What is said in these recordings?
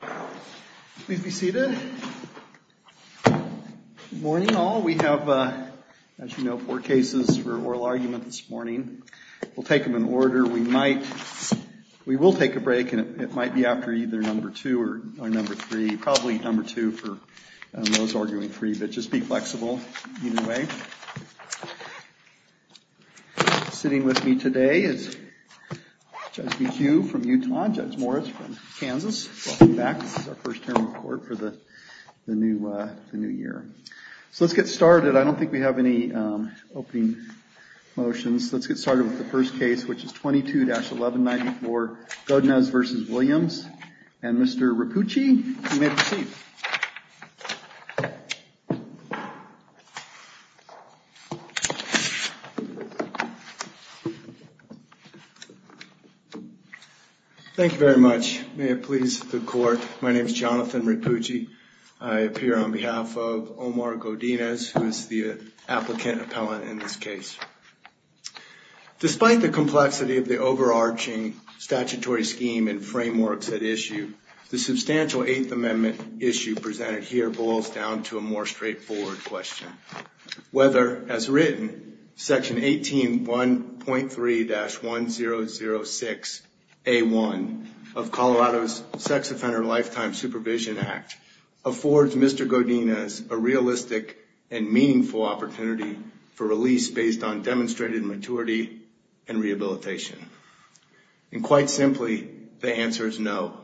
Please be seated. Good morning all. We have, as you know, four cases for oral argument this morning. We'll take them in order. We might, we will take a break and it might be after either number two or number three, probably number two for those arguing three, but just be flexible either way. Sitting with me today is Judge McHugh from Utah, Judge Morris from Utah. This is our first term in court for the new year. So let's get started. I don't think we have any opening motions. Let's get started with the first case, which is 22-1194 Godinez v. Williams. And Mr. Rapucci, you may proceed. Thank you very much. May it please the court. My name is Jonathan Rapucci. I appear on behalf of Omar Godinez, who is the applicant appellant in this case. Despite the complexity of the issue presented here, it boils down to a more straightforward question. Whether, as written, section 18.1.3-1006A1 of Colorado's Sex Offender Lifetime Supervision Act affords Mr. Godinez a realistic and meaningful opportunity for release based on demonstrated maturity and rehabilitation. And quite simply, the answer is no,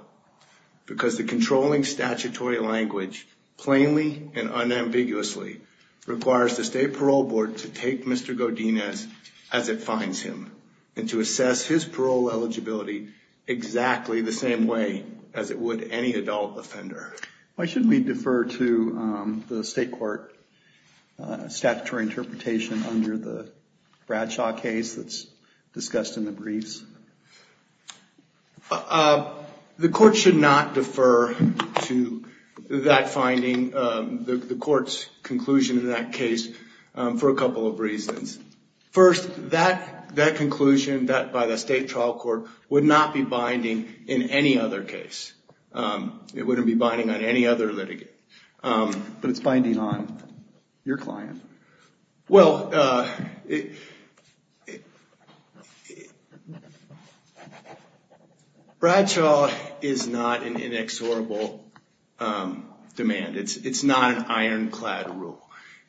because the controlling statutory language plainly and unambiguously requires the state parole board to take Mr. Godinez as it finds him and to assess his parole eligibility exactly the same way as it would any adult offender. Why shouldn't we defer to the state court statutory interpretation under the Bradshaw case that's discussed in the briefs? The court should not defer to that finding, the court's conclusion in that case, for a couple of reasons. First, that conclusion by the state trial court would not be binding in any other case. It wouldn't be binding on any other litigant. But it's binding on your client. Well, Bradshaw is not an inexorable demand. It's not an ironclad rule.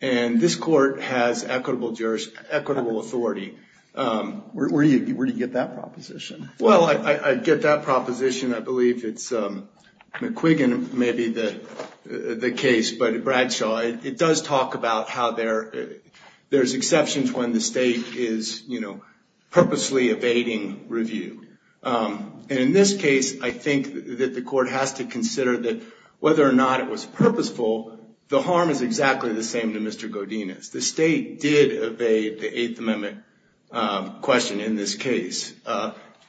And this court has equitable authority. Where do you get that proposition? Well, I get that proposition. I believe it's McQuiggan, maybe, the case. But Bradshaw, it does talk about how there's exceptions when the state is, you know, purposely evading review. And in this case, I think that the court has to consider that whether or not it was purposeful, the harm is exactly the same to Mr. Godinez. The state did evade the Eighth Amendment question in this case.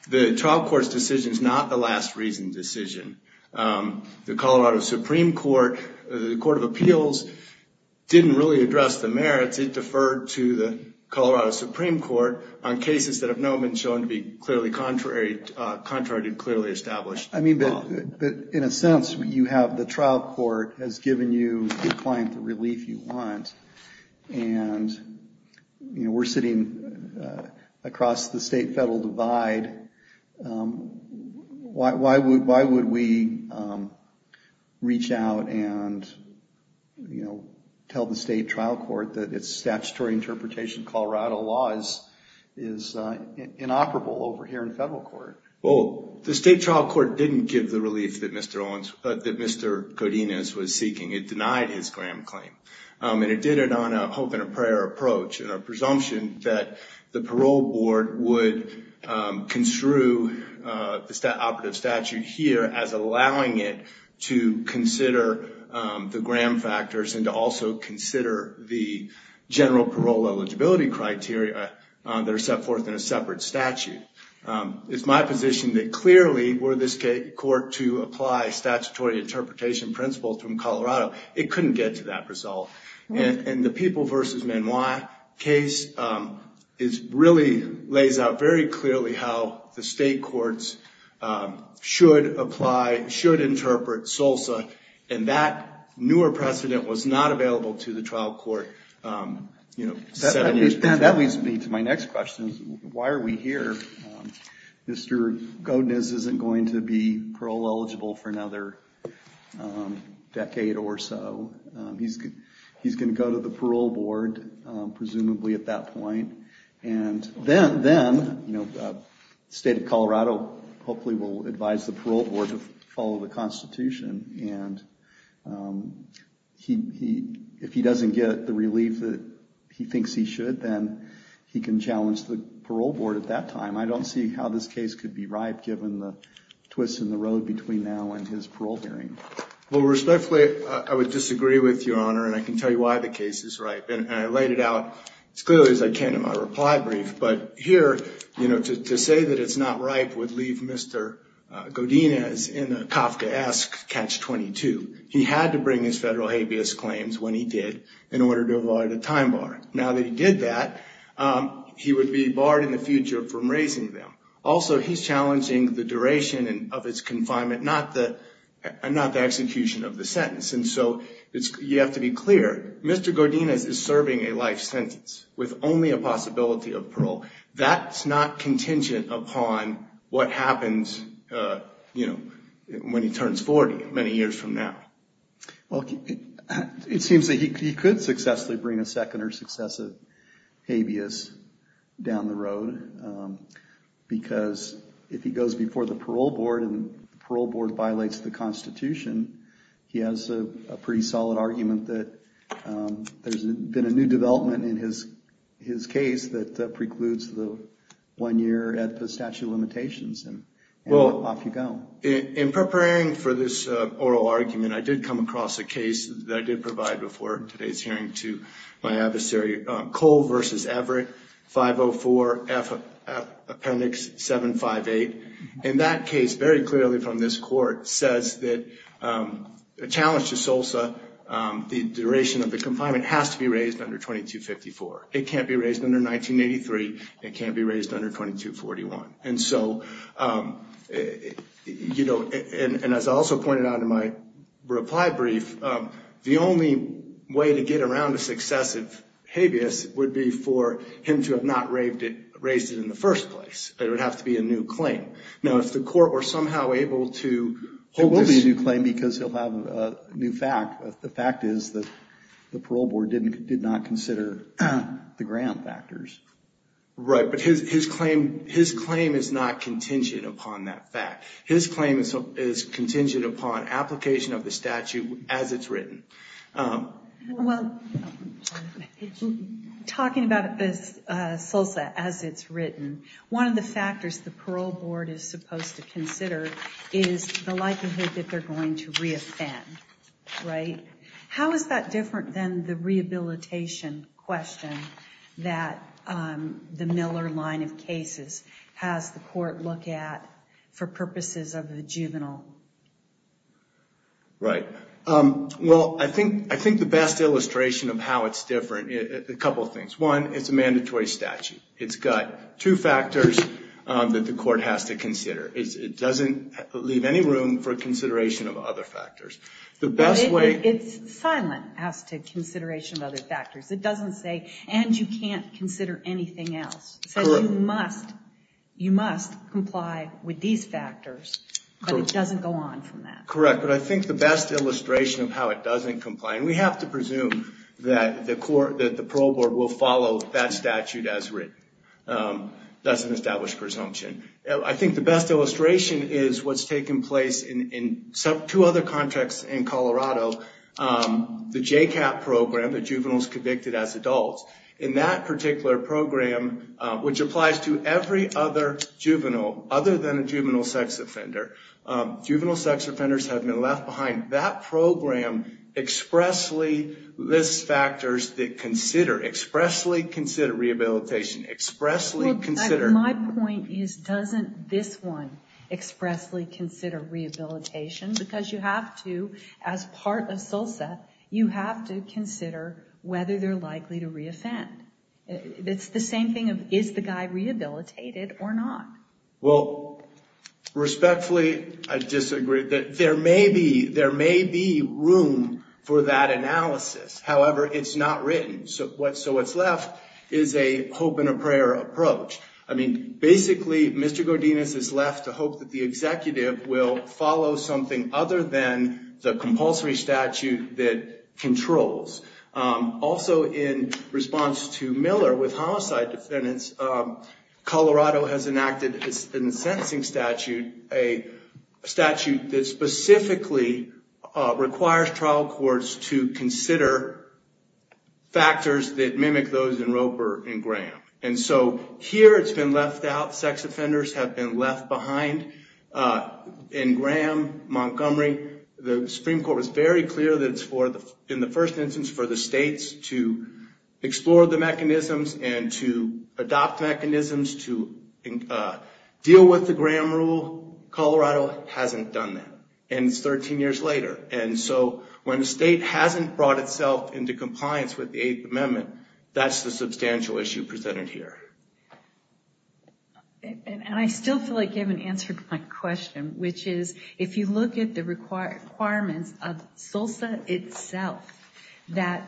The trial court's decision is not the last reasoned decision. The Colorado Supreme Court, the Court of Appeals, didn't really address the merits. It deferred to the Colorado Supreme Court on cases that have now been shown to be clearly contrary, contrary to clearly established law. I mean, but in a sense, you have the relief you want. And, you know, we're sitting across the state-federal divide. Why would we reach out and, you know, tell the state trial court that its statutory interpretation Colorado laws is inoperable over here in federal court? Well, the state trial court didn't give the relief that Mr. Godinez was seeking. It denied his Graham claim. And it did it on a hope and a prayer approach and a presumption that the parole board would construe the operative statute here as allowing it to consider the Graham factors and to also consider the general parole eligibility criteria that are set forth in a separate statute. It's my position that clearly were this court to apply statutory interpretation principles from Colorado, it couldn't get to that result. And the People v. Manoir case is really lays out very clearly how the state courts should apply, should interpret SILSA. And that newer precedent was not available to the trial court, you know, seven years before that. That leads me to my next question. Why are we here? Mr. Godinez isn't going to be parole eligible for another decade or so. He's going to go to the parole board, presumably at that point. And then, you know, the state of Colorado hopefully will advise the parole board to the constitution. And if he doesn't get the relief that he thinks he should, then he can challenge the parole board at that time. I don't see how this case could be ripe given the twists in the road between now and his parole hearing. Well, respectfully, I would disagree with your honor. And I can tell you why the case is ripe. And I laid it out as clearly as I can in my reply brief. But here, you know, to say that it's not ripe would leave Mr. Godinez in a Kafkaesque catch-22. He had to bring his federal habeas claims when he did in order to avoid a time bar. Now that he did that, he would be barred in the future from raising them. Also, he's challenging the duration of his confinement, not the execution of the sentence. And so you have to be clear. Mr. Godinez is serving a life sentence with only a possibility of parole. That's not contingent upon what happens, you know, when he turns 40 many years from now. Well, it seems that he could successfully bring a second or successive habeas down the road because if he goes before the parole board and the parole board his case that precludes the one year at the statute of limitations and off you go. In preparing for this oral argument, I did come across a case that I did provide before today's hearing to my adversary, Cole versus Everett, 504 F Appendix 758. And that case, very clearly from this court, says that a challenge to It can't be raised under 1983. It can't be raised under 2241. And so, you know, and as I also pointed out in my reply brief, the only way to get around a successive habeas would be for him to have not raised it in the first place. It would have to be a new claim. Now, if the court were somehow able to hold this... the ground factors. Right, but his claim is not contingent upon that fact. His claim is contingent upon application of the statute as it's written. Well, talking about this SILSA as it's written, one of the factors the parole board is supposed to consider is the likelihood that they're going to re-offend, right? How is that a debilitation question that the Miller line of cases has the court look at for purposes of the juvenile? Right. Well, I think the best illustration of how it's different, a couple of things. One, it's a mandatory statute. It's got two factors that the court has to consider. It doesn't leave any room for consideration of other factors. It doesn't say, and you can't consider anything else. It says you must comply with these factors, but it doesn't go on from that. Correct, but I think the best illustration of how it doesn't comply, and we have to presume that the parole board will follow that statute as written. That's an established presumption. I think the best illustration is what's taken place in two other contexts in Colorado. The J-CAP program, the juveniles convicted as adults. In that particular program, which applies to every other juvenile other than a juvenile sex offender, juvenile sex offenders have been left behind. That program expressly lists factors that consider, expressly consider rehabilitation, expressly consider... My point is, doesn't this one expressly consider rehabilitation? Because you have to, as part of SULCEP, you have to consider whether they're likely to re-offend. It's the same thing of, is the guy rehabilitated or not? Well, respectfully, I disagree. There may be room for that analysis. However, it's not written, so what's left is a hope and a prayer approach. I mean, basically, Mr. Executive will follow something other than the compulsory statute that controls. Also, in response to Miller with homicide defendants, Colorado has enacted a sentencing statute, a statute that specifically requires trial courts to consider factors that mimic those in Roper and Graham. And so, here it's been left out. Sex offenders have been left behind. In Graham, Montgomery, the Supreme Court was very clear that it's for, in the first instance, for the states to explore the mechanisms and to adopt mechanisms to deal with the Graham rule. Colorado hasn't done that. And it's 13 years later. And so, when the state hasn't brought itself into compliance with the Eighth Amendment, that's the substantial issue presented here. And I still feel like you haven't answered my question, which is, if you look at the requirements of SILSA itself, that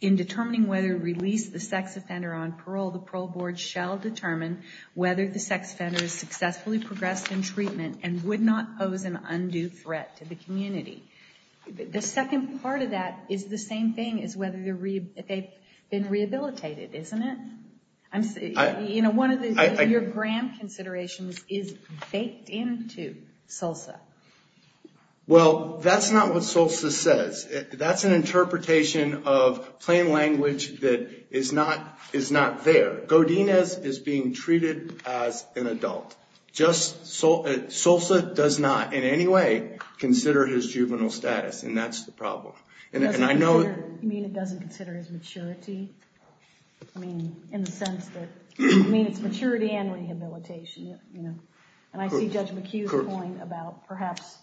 in determining whether to release the sex offender on parole, the parole board shall determine whether the sex offender has successfully progressed in treatment and would not pose an undue threat to the community. The second part of that is the same thing as whether they've been rehabilitated, isn't it? You know, one of your Graham considerations is baked into SILSA. Well, that's not what SILSA says. That's an interpretation of plain language that is not there. Godinez is being treated as an issue that doesn't consider his maturity. I mean, in the sense that, I mean, it's maturity and rehabilitation, you know. And I see Judge McHugh's point about perhaps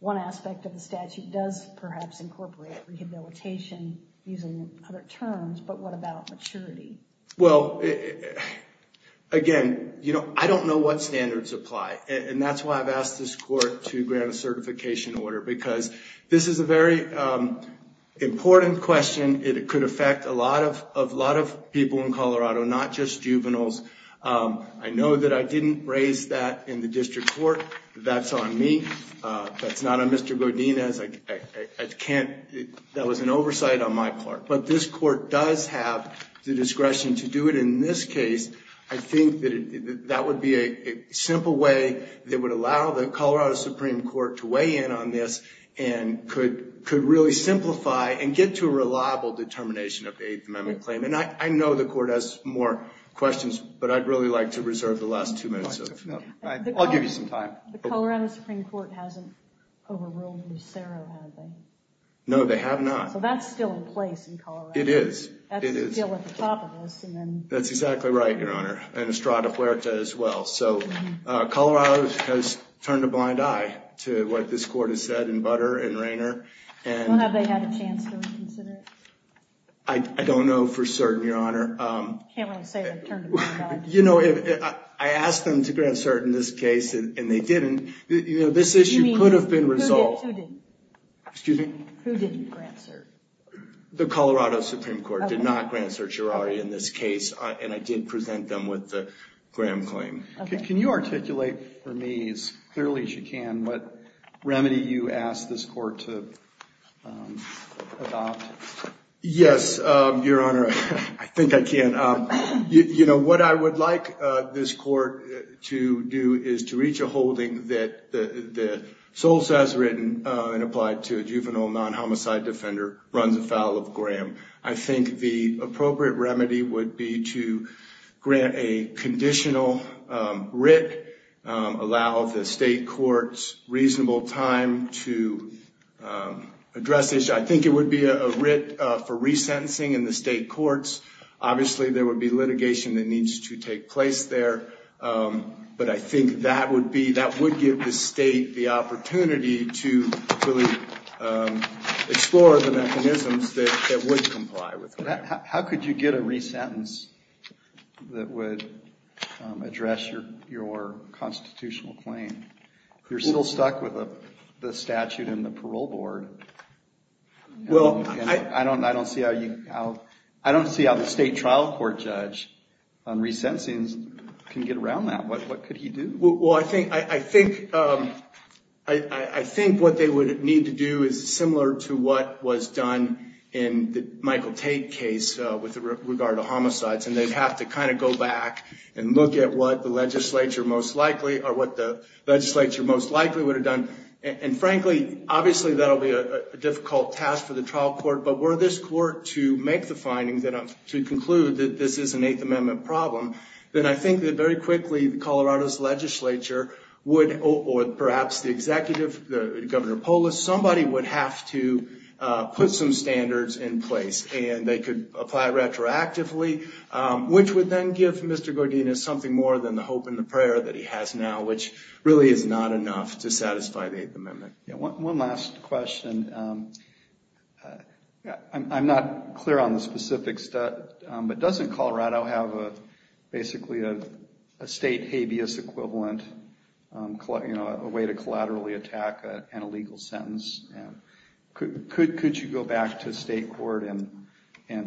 one aspect of the statute does perhaps incorporate rehabilitation using other terms, but what about maturity? Well, again, you know, I don't know what standards apply. And that's why I've asked this Court to grant a certification order, because this is a very important question. It could affect a lot of people in Colorado, not just juveniles. I know that I didn't raise that in the district court. That's on me. That's not on Mr. Godinez. I can't, that was an oversight on my part. But this Court does have the authority and could really simplify and get to a reliable determination of eighth amendment claim. And I know the Court has more questions, but I'd really like to reserve the last two minutes of it. I'll give you some time. The Colorado Supreme Court hasn't overruled Lucero, have they? No, they have not. So that's still in place in Colorado. It is. It is. That's still at the top of this. That's exactly right, Your Honor. And Estrada Huerta as well. So Colorado has turned a blind eye to what this Court has said in butter and rainer. Don't have they had a chance to reconsider it? I don't know for certain, Your Honor. Can't really say they've turned a blind eye. You know, I asked them to grant cert in this case, and they didn't. You know, this issue could have been resolved. Who didn't? Excuse me? Who didn't grant cert? The Colorado Supreme Court did not grant certiorari in this case, and I did present them with the Graham claim. Can you articulate for me, as clearly as you can, what remedy you ask this Court to adopt? Yes, Your Honor. I think I can. You know, what I would like this Court to do is to reach a holding that the sole sense written and applied to a juvenile non-homicide defender runs afoul of Graham. I think the appropriate remedy would be to grant a conditional writ, allow the state courts reasonable time to address this. I think it would be a writ for resentencing in the state courts. Obviously, there would be litigation that needs to take place there. But I think that would be, that would give the state the opportunity to really explore the mechanisms that would comply with Graham. How could you get a resentence that would address your constitutional claim? You're still stuck with the statute and the parole board. Well, I don't see how the state trial court judge on resentencing can get around that. What could he do? Well, I think what they would need to do is similar to what was done in the Michael Tate case with regard to homicides, and they'd have to kind of go back and look at what the legislature most likely would have done. And frankly, obviously, that'll be a difficult task for the trial court. But were this court to make the findings, to conclude that this is an Eighth Amendment problem, then I think that very quickly Colorado's legislature would, or perhaps the executive, Governor Polis, somebody would have to put some standards in place. And they could apply retroactively, which would then give Mr. Gordinas something more than the hope and the prayer that he has now, which really is not enough to satisfy the Eighth Amendment. One last question. I'm not clear on the specifics, but doesn't Colorado have basically a state habeas equivalent, a way to collaterally attack an illegal sentence? Could you go back to state court and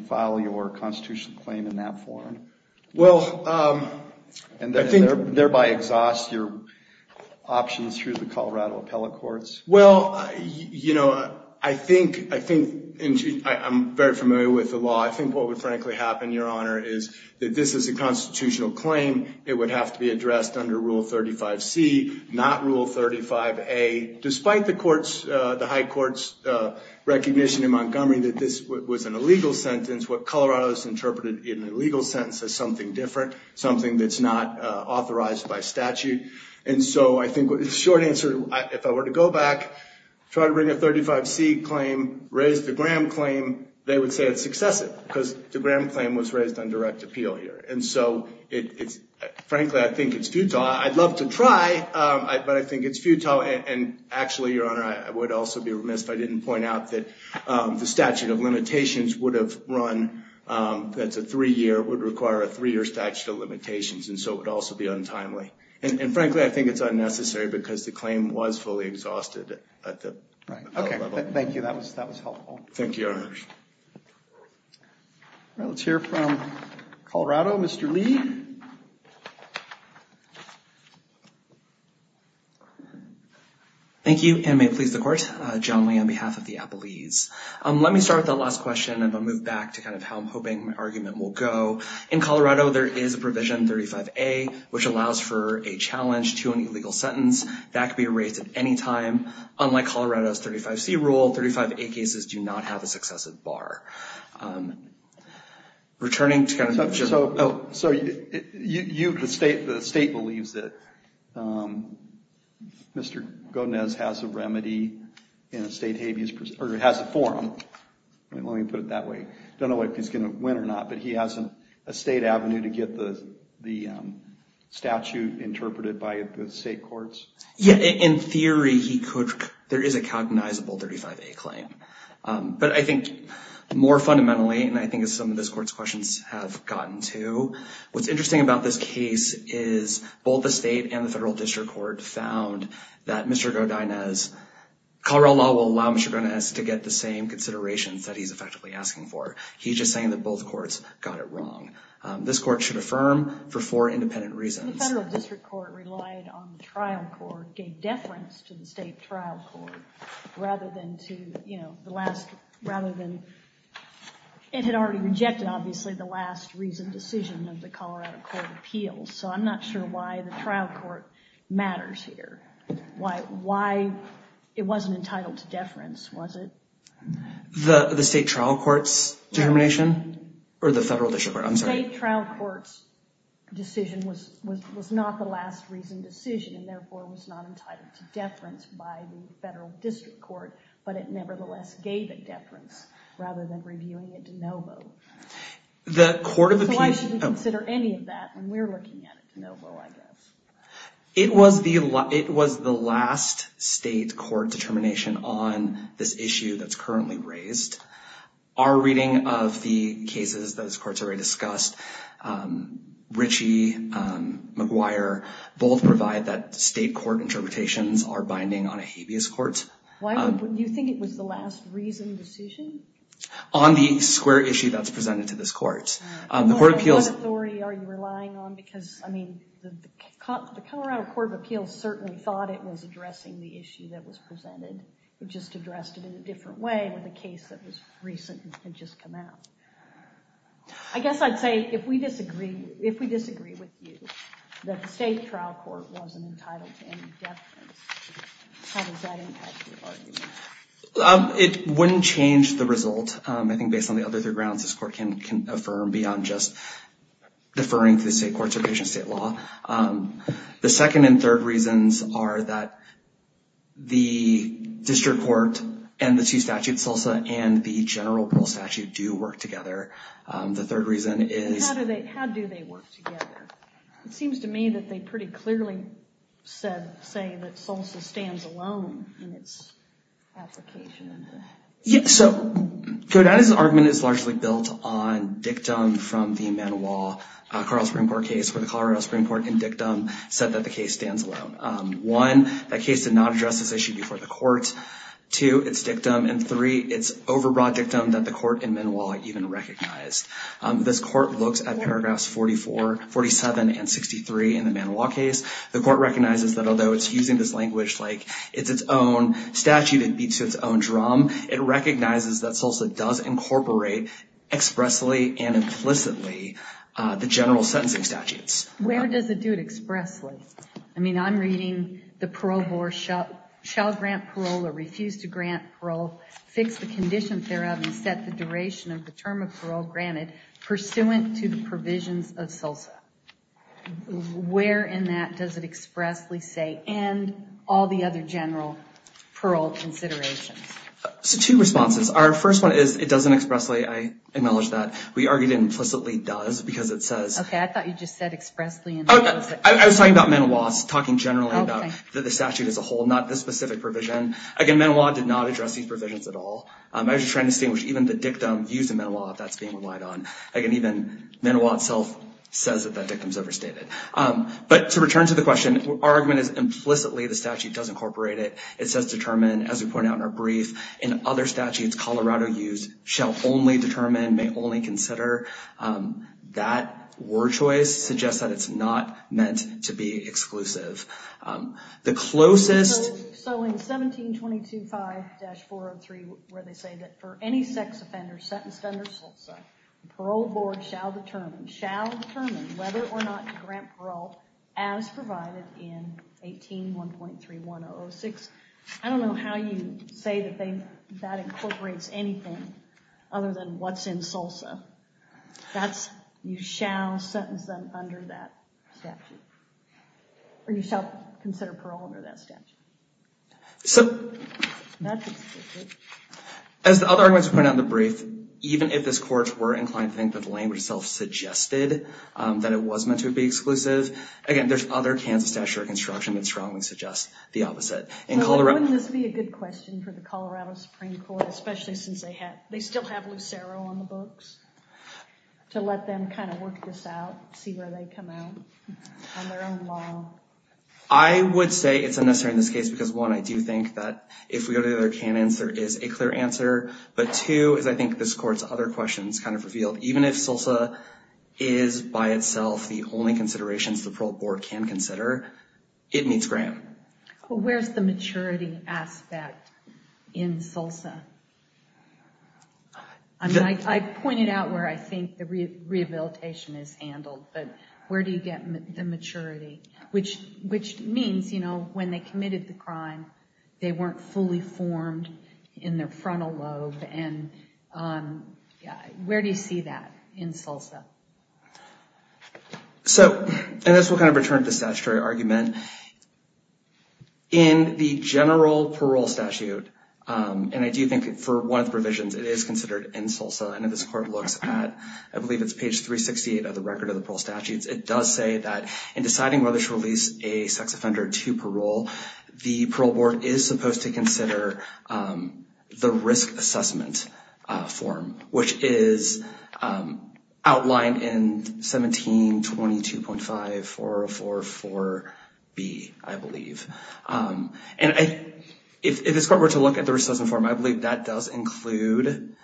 file your constitutional claim in that form? And thereby exhaust your options through the Colorado appellate courts? Well, you know, I think I'm very familiar with the law. I think what would frankly happen, Your Honor, is that this is a constitutional claim. It would have to be addressed under Rule 35C, not Rule 35A. Despite the High Court's recognition in Montgomery that this was an illegal sentence, what Colorado has interpreted in a legal sentence as something different, something that's not authorized by statute. And so I think the short answer, if I were to go back, try to bring a 35C claim, raise the Graham claim, they would say it's excessive because the Graham claim was raised on direct appeal here. And so frankly, I think it's futile. I'd love to try, but I think it's futile. And actually, Your Honor, I would also be remiss if I didn't point out that the statute of limitations would have run, that's a three-year, would require a three-year statute of limitations. And so it would also be untimely. And frankly, I think it's unnecessary because the claim was fully exhausted at the appellate level. Thank you. That was helpful. Thank you, Your Honor. All right. Let's hear from Colorado. Mr. Lee. Thank you, and may it please the Court. John Lee on behalf of the Appellees. Let me start with that last question, and I'll move back to kind of how I'm hoping my argument will go. In Colorado, there is a provision, 35A, which allows for a challenge to an illegal sentence. That could be raised at any time. Unlike Colorado's 35C rule, 35A cases do not have a successive bar. Returning to kind of just – So you – the state believes that Mr. Gómez has a remedy in a state habeas – or has a forum. Let me put it that way. I don't know if he's going to win or not, but he has a state avenue to get the statute interpreted by the state courts. Yeah. In theory, he could – there is a cognizable 35A claim. But I think more fundamentally, and I think some of this Court's questions have gotten to, what's interesting about this case is both the state and the federal district court found that Mr. Gómez – Colorado law will allow Mr. Gómez to get the same considerations that he's effectively asking for. He's just saying that both courts got it wrong. This Court should affirm for four independent reasons. The federal district court relied on the trial court, gave deference to the state trial court rather than to, you know, the last – rather than – it had already rejected, obviously, the last reasoned decision of the Colorado Court of Appeals. So I'm not sure why the trial court matters here. Why it wasn't entitled to deference, was it? The state trial court's determination? No. Or the federal district court, I'm sorry. The state trial court's decision was not the last reasoned decision, and therefore was not entitled to deference by the federal district court, but it nevertheless gave it deference rather than reviewing it de novo. The Court of Appeals – So I shouldn't consider any of that when we're looking at it de novo, I guess. It was the last state court determination on this issue that's currently raised. Our reading of the cases those courts already discussed, Ritchie, McGuire, both provide that state court interpretations are binding on a habeas court. Why would – do you think it was the last reasoned decision? On the square issue that's presented to this court. The Court of Appeals – What authority are you relying on? Because, I mean, the Colorado Court of Appeals certainly thought it was addressing the issue that was presented. It just addressed it in a different way with a case that was recent and had just come out. I guess I'd say if we disagree with you that the state trial court wasn't entitled to any deference, how does that impact the argument? It wouldn't change the result. I think based on the other three grounds this court can affirm beyond just deferring to the state courts or patient state law. The second and third reasons are that the district court and the two statutes, SILSA and the general parole statute, do work together. The third reason is – How do they work together? It seems to me that they pretty clearly said – say that SILSA stands alone in its application. So, Kodata's argument is largely built on dictum from the Manoir Carl Springport case where the Colorado Supreme Court in dictum said that the case stands alone. One, that case did not address this issue before the court. Two, it's dictum. And three, it's overbroad dictum that the court in Manoir even recognized. This court looks at paragraphs 44, 47, and 63 in the Manoir case. The court recognizes that although it's using this language like it's its own statute, it beats its own drum, it recognizes that SILSA does incorporate expressly and implicitly the general sentencing statutes. Where does it do it expressly? I mean, I'm reading the parole board shall grant parole or refuse to grant parole, fix the conditions thereof and set the duration of the term of parole granted pursuant to the provisions of SILSA. Where in that does it expressly say end all the other general parole considerations? So, two responses. Our first one is it doesn't expressly, I acknowledge that. We argued it implicitly does because it says... Okay, I thought you just said expressly and implicitly. I was talking about Manoirs, talking generally about the statute as a whole, not this specific provision. Again, Manoir did not address these provisions at all. I was just trying to distinguish even the dictum used in Manoir that's being relied on. Again, even Manoir itself says that that dictum is overstated. But to return to the question, our argument is implicitly the statute does incorporate it. It says determine, as we pointed out in our brief, in other statutes, Colorado used shall only determine, may only consider. That word choice suggests that it's not meant to be exclusive. The closest... It's found in 1722.5-403 where they say that for any sex offender sentenced under SILSA, the parole board shall determine, shall determine whether or not to grant parole as provided in 18.1.3.1006. I don't know how you say that incorporates anything other than what's in SILSA. That's you shall sentence them under that statute. Or you shall consider parole under that statute. As the other arguments we pointed out in the brief, even if this court were inclined to think that the language itself suggested that it was meant to be exclusive, again, there's other Kansas statute of construction that strongly suggests the opposite. Wouldn't this be a good question for the Colorado Supreme Court, especially since they still have Lucero on the books, to let them kind of work this out, see where they come out on their own law? I would say it's unnecessary in this case because, one, I do think that if we go to the other canons, there is a clear answer. But two is I think this court's other questions kind of revealed, even if SILSA is by itself the only considerations the parole board can consider, it needs grant. Where's the maturity aspect in SILSA? I mean, I pointed out where I think the rehabilitation is handled, but where do you get the maturity? Which means, you know, when they committed the crime, they weren't fully formed in their frontal lobe. And where do you see that in SILSA? So, and this will kind of return to the statutory argument. In the general parole statute, and I do think for one of the provisions, it is considered in SILSA, and if this court looks at, I believe it's page 368 of the record of the parole statutes, it does say that in deciding whether to release a sex offender to parole, the parole board is supposed to consider the risk assessment form, which is outlined in 1722.54044B, I believe. And if this court were to look at the risk assessment form, I believe that does include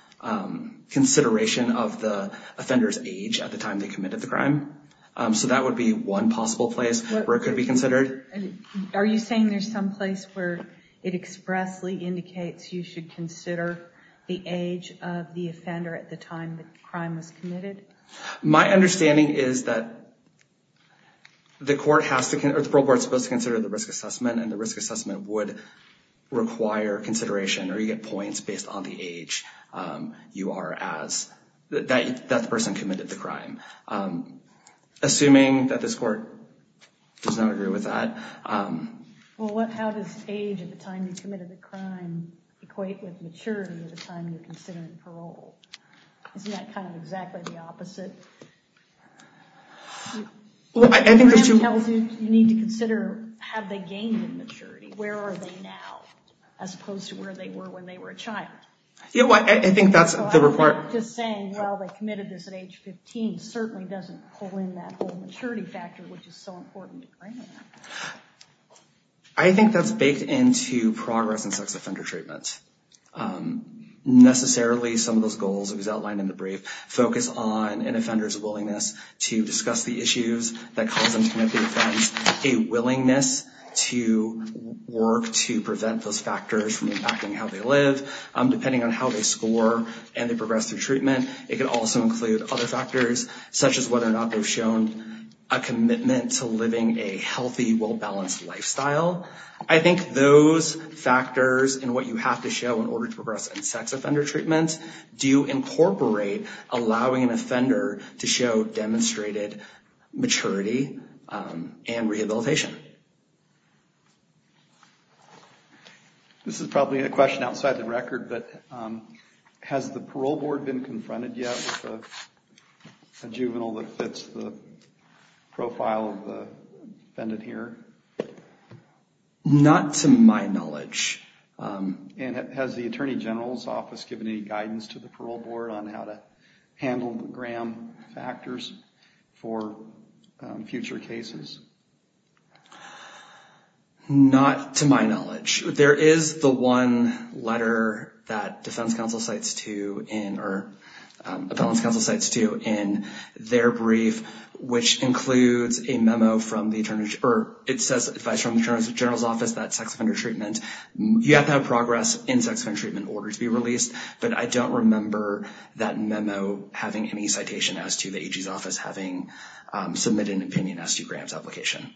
consideration of the offender's age at the time they committed the crime. So that would be one possible place where it could be considered. Are you saying there's some place where it expressly indicates you should consider the age of the offender at the time the crime was committed? My understanding is that the court has to, or the parole board is supposed to consider the risk assessment, and the risk assessment would require consideration, or you get points based on the age you are as, that the person committed the crime. Assuming that this court does not agree with that. Well, how does age at the time you committed the crime equate with maturity at the time you're considering parole? Isn't that kind of exactly the opposite? You need to consider, have they gained in maturity? Where are they now? As opposed to where they were when they were a child. I think that's the report. Just saying, well, they committed this at age 15 certainly doesn't pull in that whole maturity factor, which is so important to claim. I think that's baked into progress in sex offender treatment. Necessarily, some of those goals, as outlined in the brief, focus on an offender's willingness to discuss the issues that cause them to commit the offense, a willingness to work to prevent those factors from impacting how they live, depending on how they score and they progress through treatment. It could also include other factors, such as whether or not they've shown a commitment to living a healthy, well-balanced lifestyle. I think those factors and what you have to show in order to progress in sex offender treatment do incorporate allowing an offender to show demonstrated maturity and rehabilitation. This is probably a question outside the record, but has the parole board been confronted yet with a juvenile that fits the profile of the defendant here? Not to my knowledge. Has the Attorney General's Office given any guidance to the parole board on how to handle the Graham factors for future cases? Not to my knowledge. There is the one letter that defense counsel cites to in or appellant's counsel cites to in their brief, which includes a memo from the Attorney General's Office that sex offender treatment, you have to have progress in sex offender treatment in order to be released, but I don't remember that memo having any citation as to the AG's office having submitted an opinion as to Graham's application.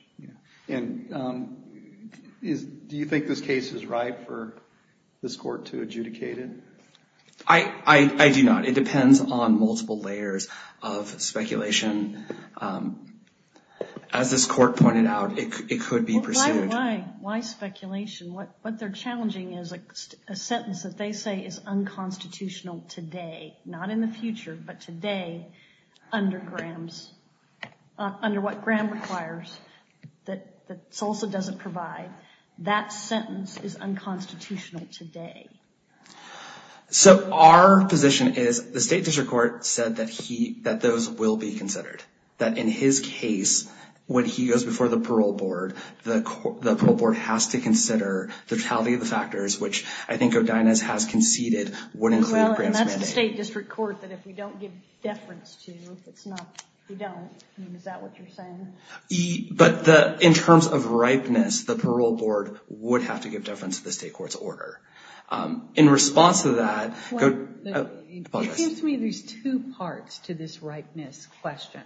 Do you think this case is right for this court to adjudicate it? I do not. It depends on multiple layers of speculation. As this court pointed out, it could be pursued. Why speculation? What they're challenging is a sentence that they say is unconstitutional today, not in the future, but today, under what Graham requires, that Salsa doesn't provide. That sentence is unconstitutional today. So our position is the State District Court said that those will be considered, that in his case, when he goes before the parole board, the parole board has to consider the totality of the factors, which I think O'Donoghue has conceded would include Graham's mandate. And that's the State District Court that if we don't give deference to, if it's not, we don't. Is that what you're saying? But in terms of ripeness, the parole board would have to give deference to the State Court's order. In response to that, the publicist. It seems to me there's two parts to this ripeness question.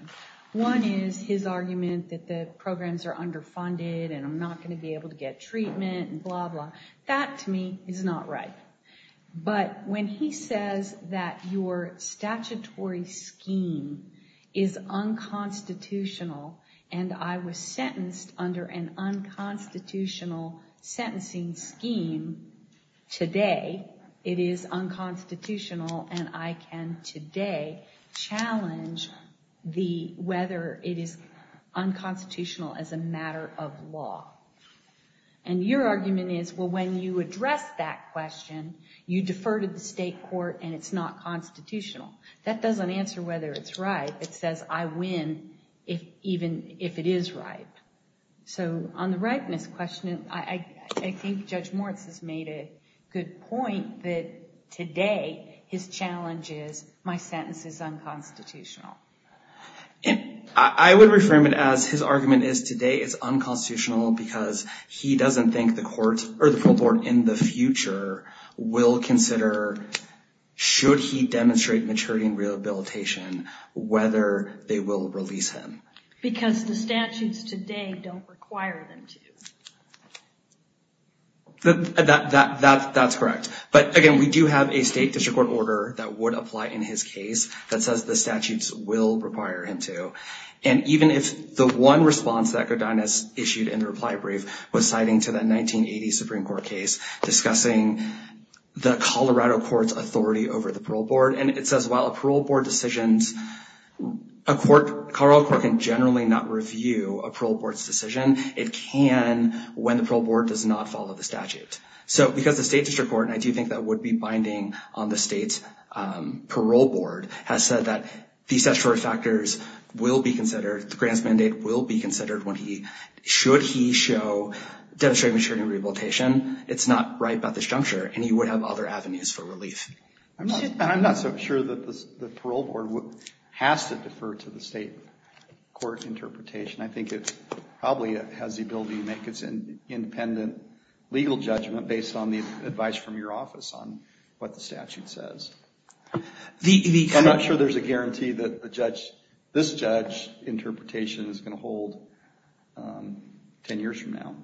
One is his argument that the programs are underfunded and I'm not going to be able to get treatment and blah, blah. That, to me, is not right. But when he says that your statutory scheme is unconstitutional and I was sentenced under an unconstitutional sentencing scheme today, it is unconstitutional and I can today challenge whether it is unconstitutional as a matter of law. And your argument is, well, when you address that question, you defer to the State Court and it's not constitutional. That doesn't answer whether it's right. It says I win even if it is right. So on the ripeness question, I think Judge Moritz has made a good point that today his challenge is my sentence is unconstitutional. I would reframe it as his argument is today is unconstitutional because he doesn't think the court or the full court in the future will consider, should he demonstrate maturity and rehabilitation, whether they will release him. Because the statutes today don't require them to. That's correct. But again, we do have a State District Court order that would apply in his case that says the statutes will require him to. And even if the one response that Godinez issued in the reply brief was citing to that 1980 Supreme Court case, discussing the Colorado court's authority over the parole board, and it says while a parole board decision, a Colorado court can generally not review a parole board's decision. It can when the parole board does not follow the statute. So because the State District Court, and I do think that would be binding on the State's parole board, has said that these statutory factors will be considered, the Grants Mandate will be considered when he, should he demonstrate maturity and rehabilitation, it's not right about this juncture, and he would have other avenues for relief. I'm not so sure that the parole board has to defer to the State court interpretation. I think it probably has the ability to make its independent legal judgment based on the advice from your office on what the statute says. I'm not sure there's a guarantee that the judge, this judge interpretation is going to hold 10 years from now.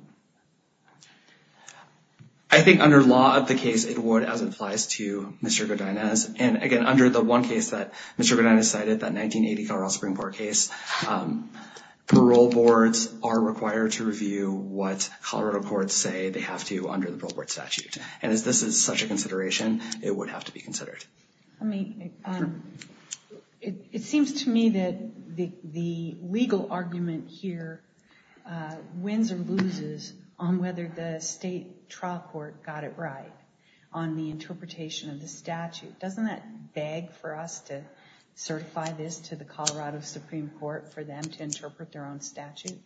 I think under law of the case, it would, as it applies to Mr. Godinez. And again, under the one case that Mr. Godinez cited, that 1980 Colorado Supreme Court case, parole boards are required to review what Colorado courts say they have to do under the parole board statute. And as this is such a consideration, it would have to be considered. I mean, it seems to me that the legal argument here wins or loses on whether the State trial court got it right on the interpretation of the statute. Doesn't that beg for us to certify this to the Colorado Supreme Court for them to interpret their own statute?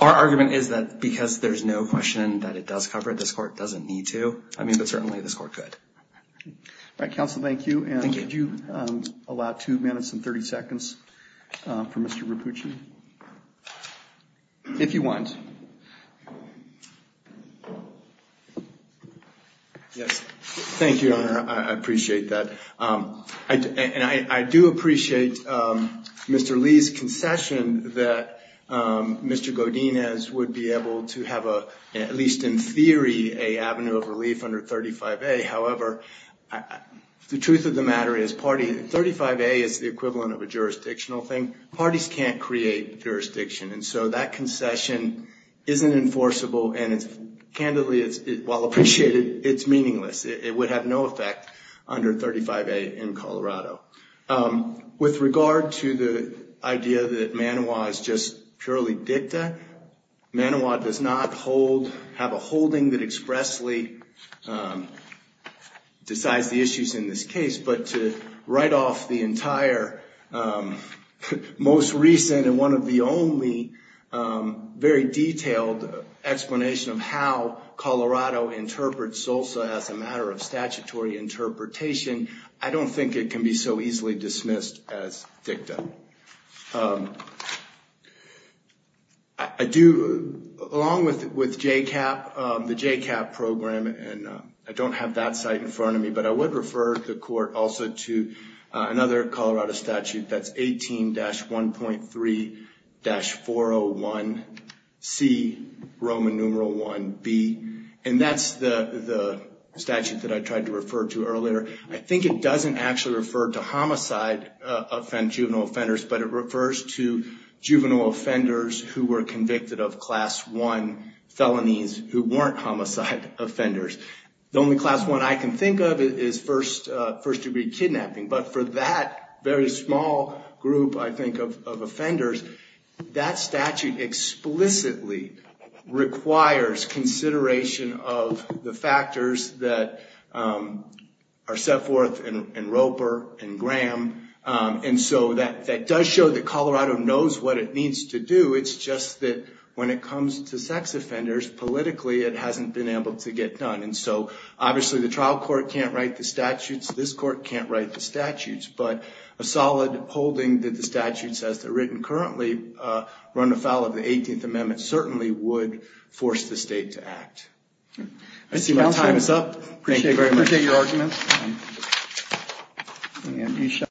Our argument is that because there's no question that it does cover it, this court doesn't need to. I mean, but certainly this court could. All right, counsel. Thank you. And could you allow two minutes and 30 seconds for Mr. Rapucci? If you want. Yes. Thank you, Your Honor. I appreciate that. And I do appreciate Mr. Lee's concession that Mr. Godinez would be able to have a, at least in theory, an avenue of relief under 35A. However, the truth of the matter is 35A is the equivalent of a jurisdictional thing. Parties can't create jurisdiction. And so that concession isn't enforceable. And candidly, while appreciated, it's meaningless. It would have no effect under 35A in Colorado. With regard to the idea that Manoa is just purely dicta, Manoa does not have a holding that expressly decides the issues in this case. But to write off the entire most recent and one of the only very detailed explanation of how Colorado interprets SOSA as a matter of statutory interpretation, I don't think it can be so easily dismissed as dicta. I do, along with JCAP, the JCAP program, and I don't have that site in front of me, but I would refer the court also to another Colorado statute that's 18-1.3-401C, Roman numeral 1B. And that's the statute that I tried to refer to earlier. I think it doesn't actually refer to homicide, juvenile offenders, but it refers to juvenile offenders who were convicted of Class I felonies who weren't homicide offenders. The only Class I I can think of is first-degree kidnapping. But for that very small group, I think, of offenders, that statute explicitly requires consideration of the factors that are set forth in Roper and Graham. And so that does show that Colorado knows what it needs to do. It's just that when it comes to sex offenders, politically, it hasn't been able to get done. And so obviously the trial court can't write the statutes. This court can't write the statutes. But a solid holding that the statutes as they're written currently run afoul of the 18th Amendment certainly would force the state to act. I see my time is up. Appreciate your arguments.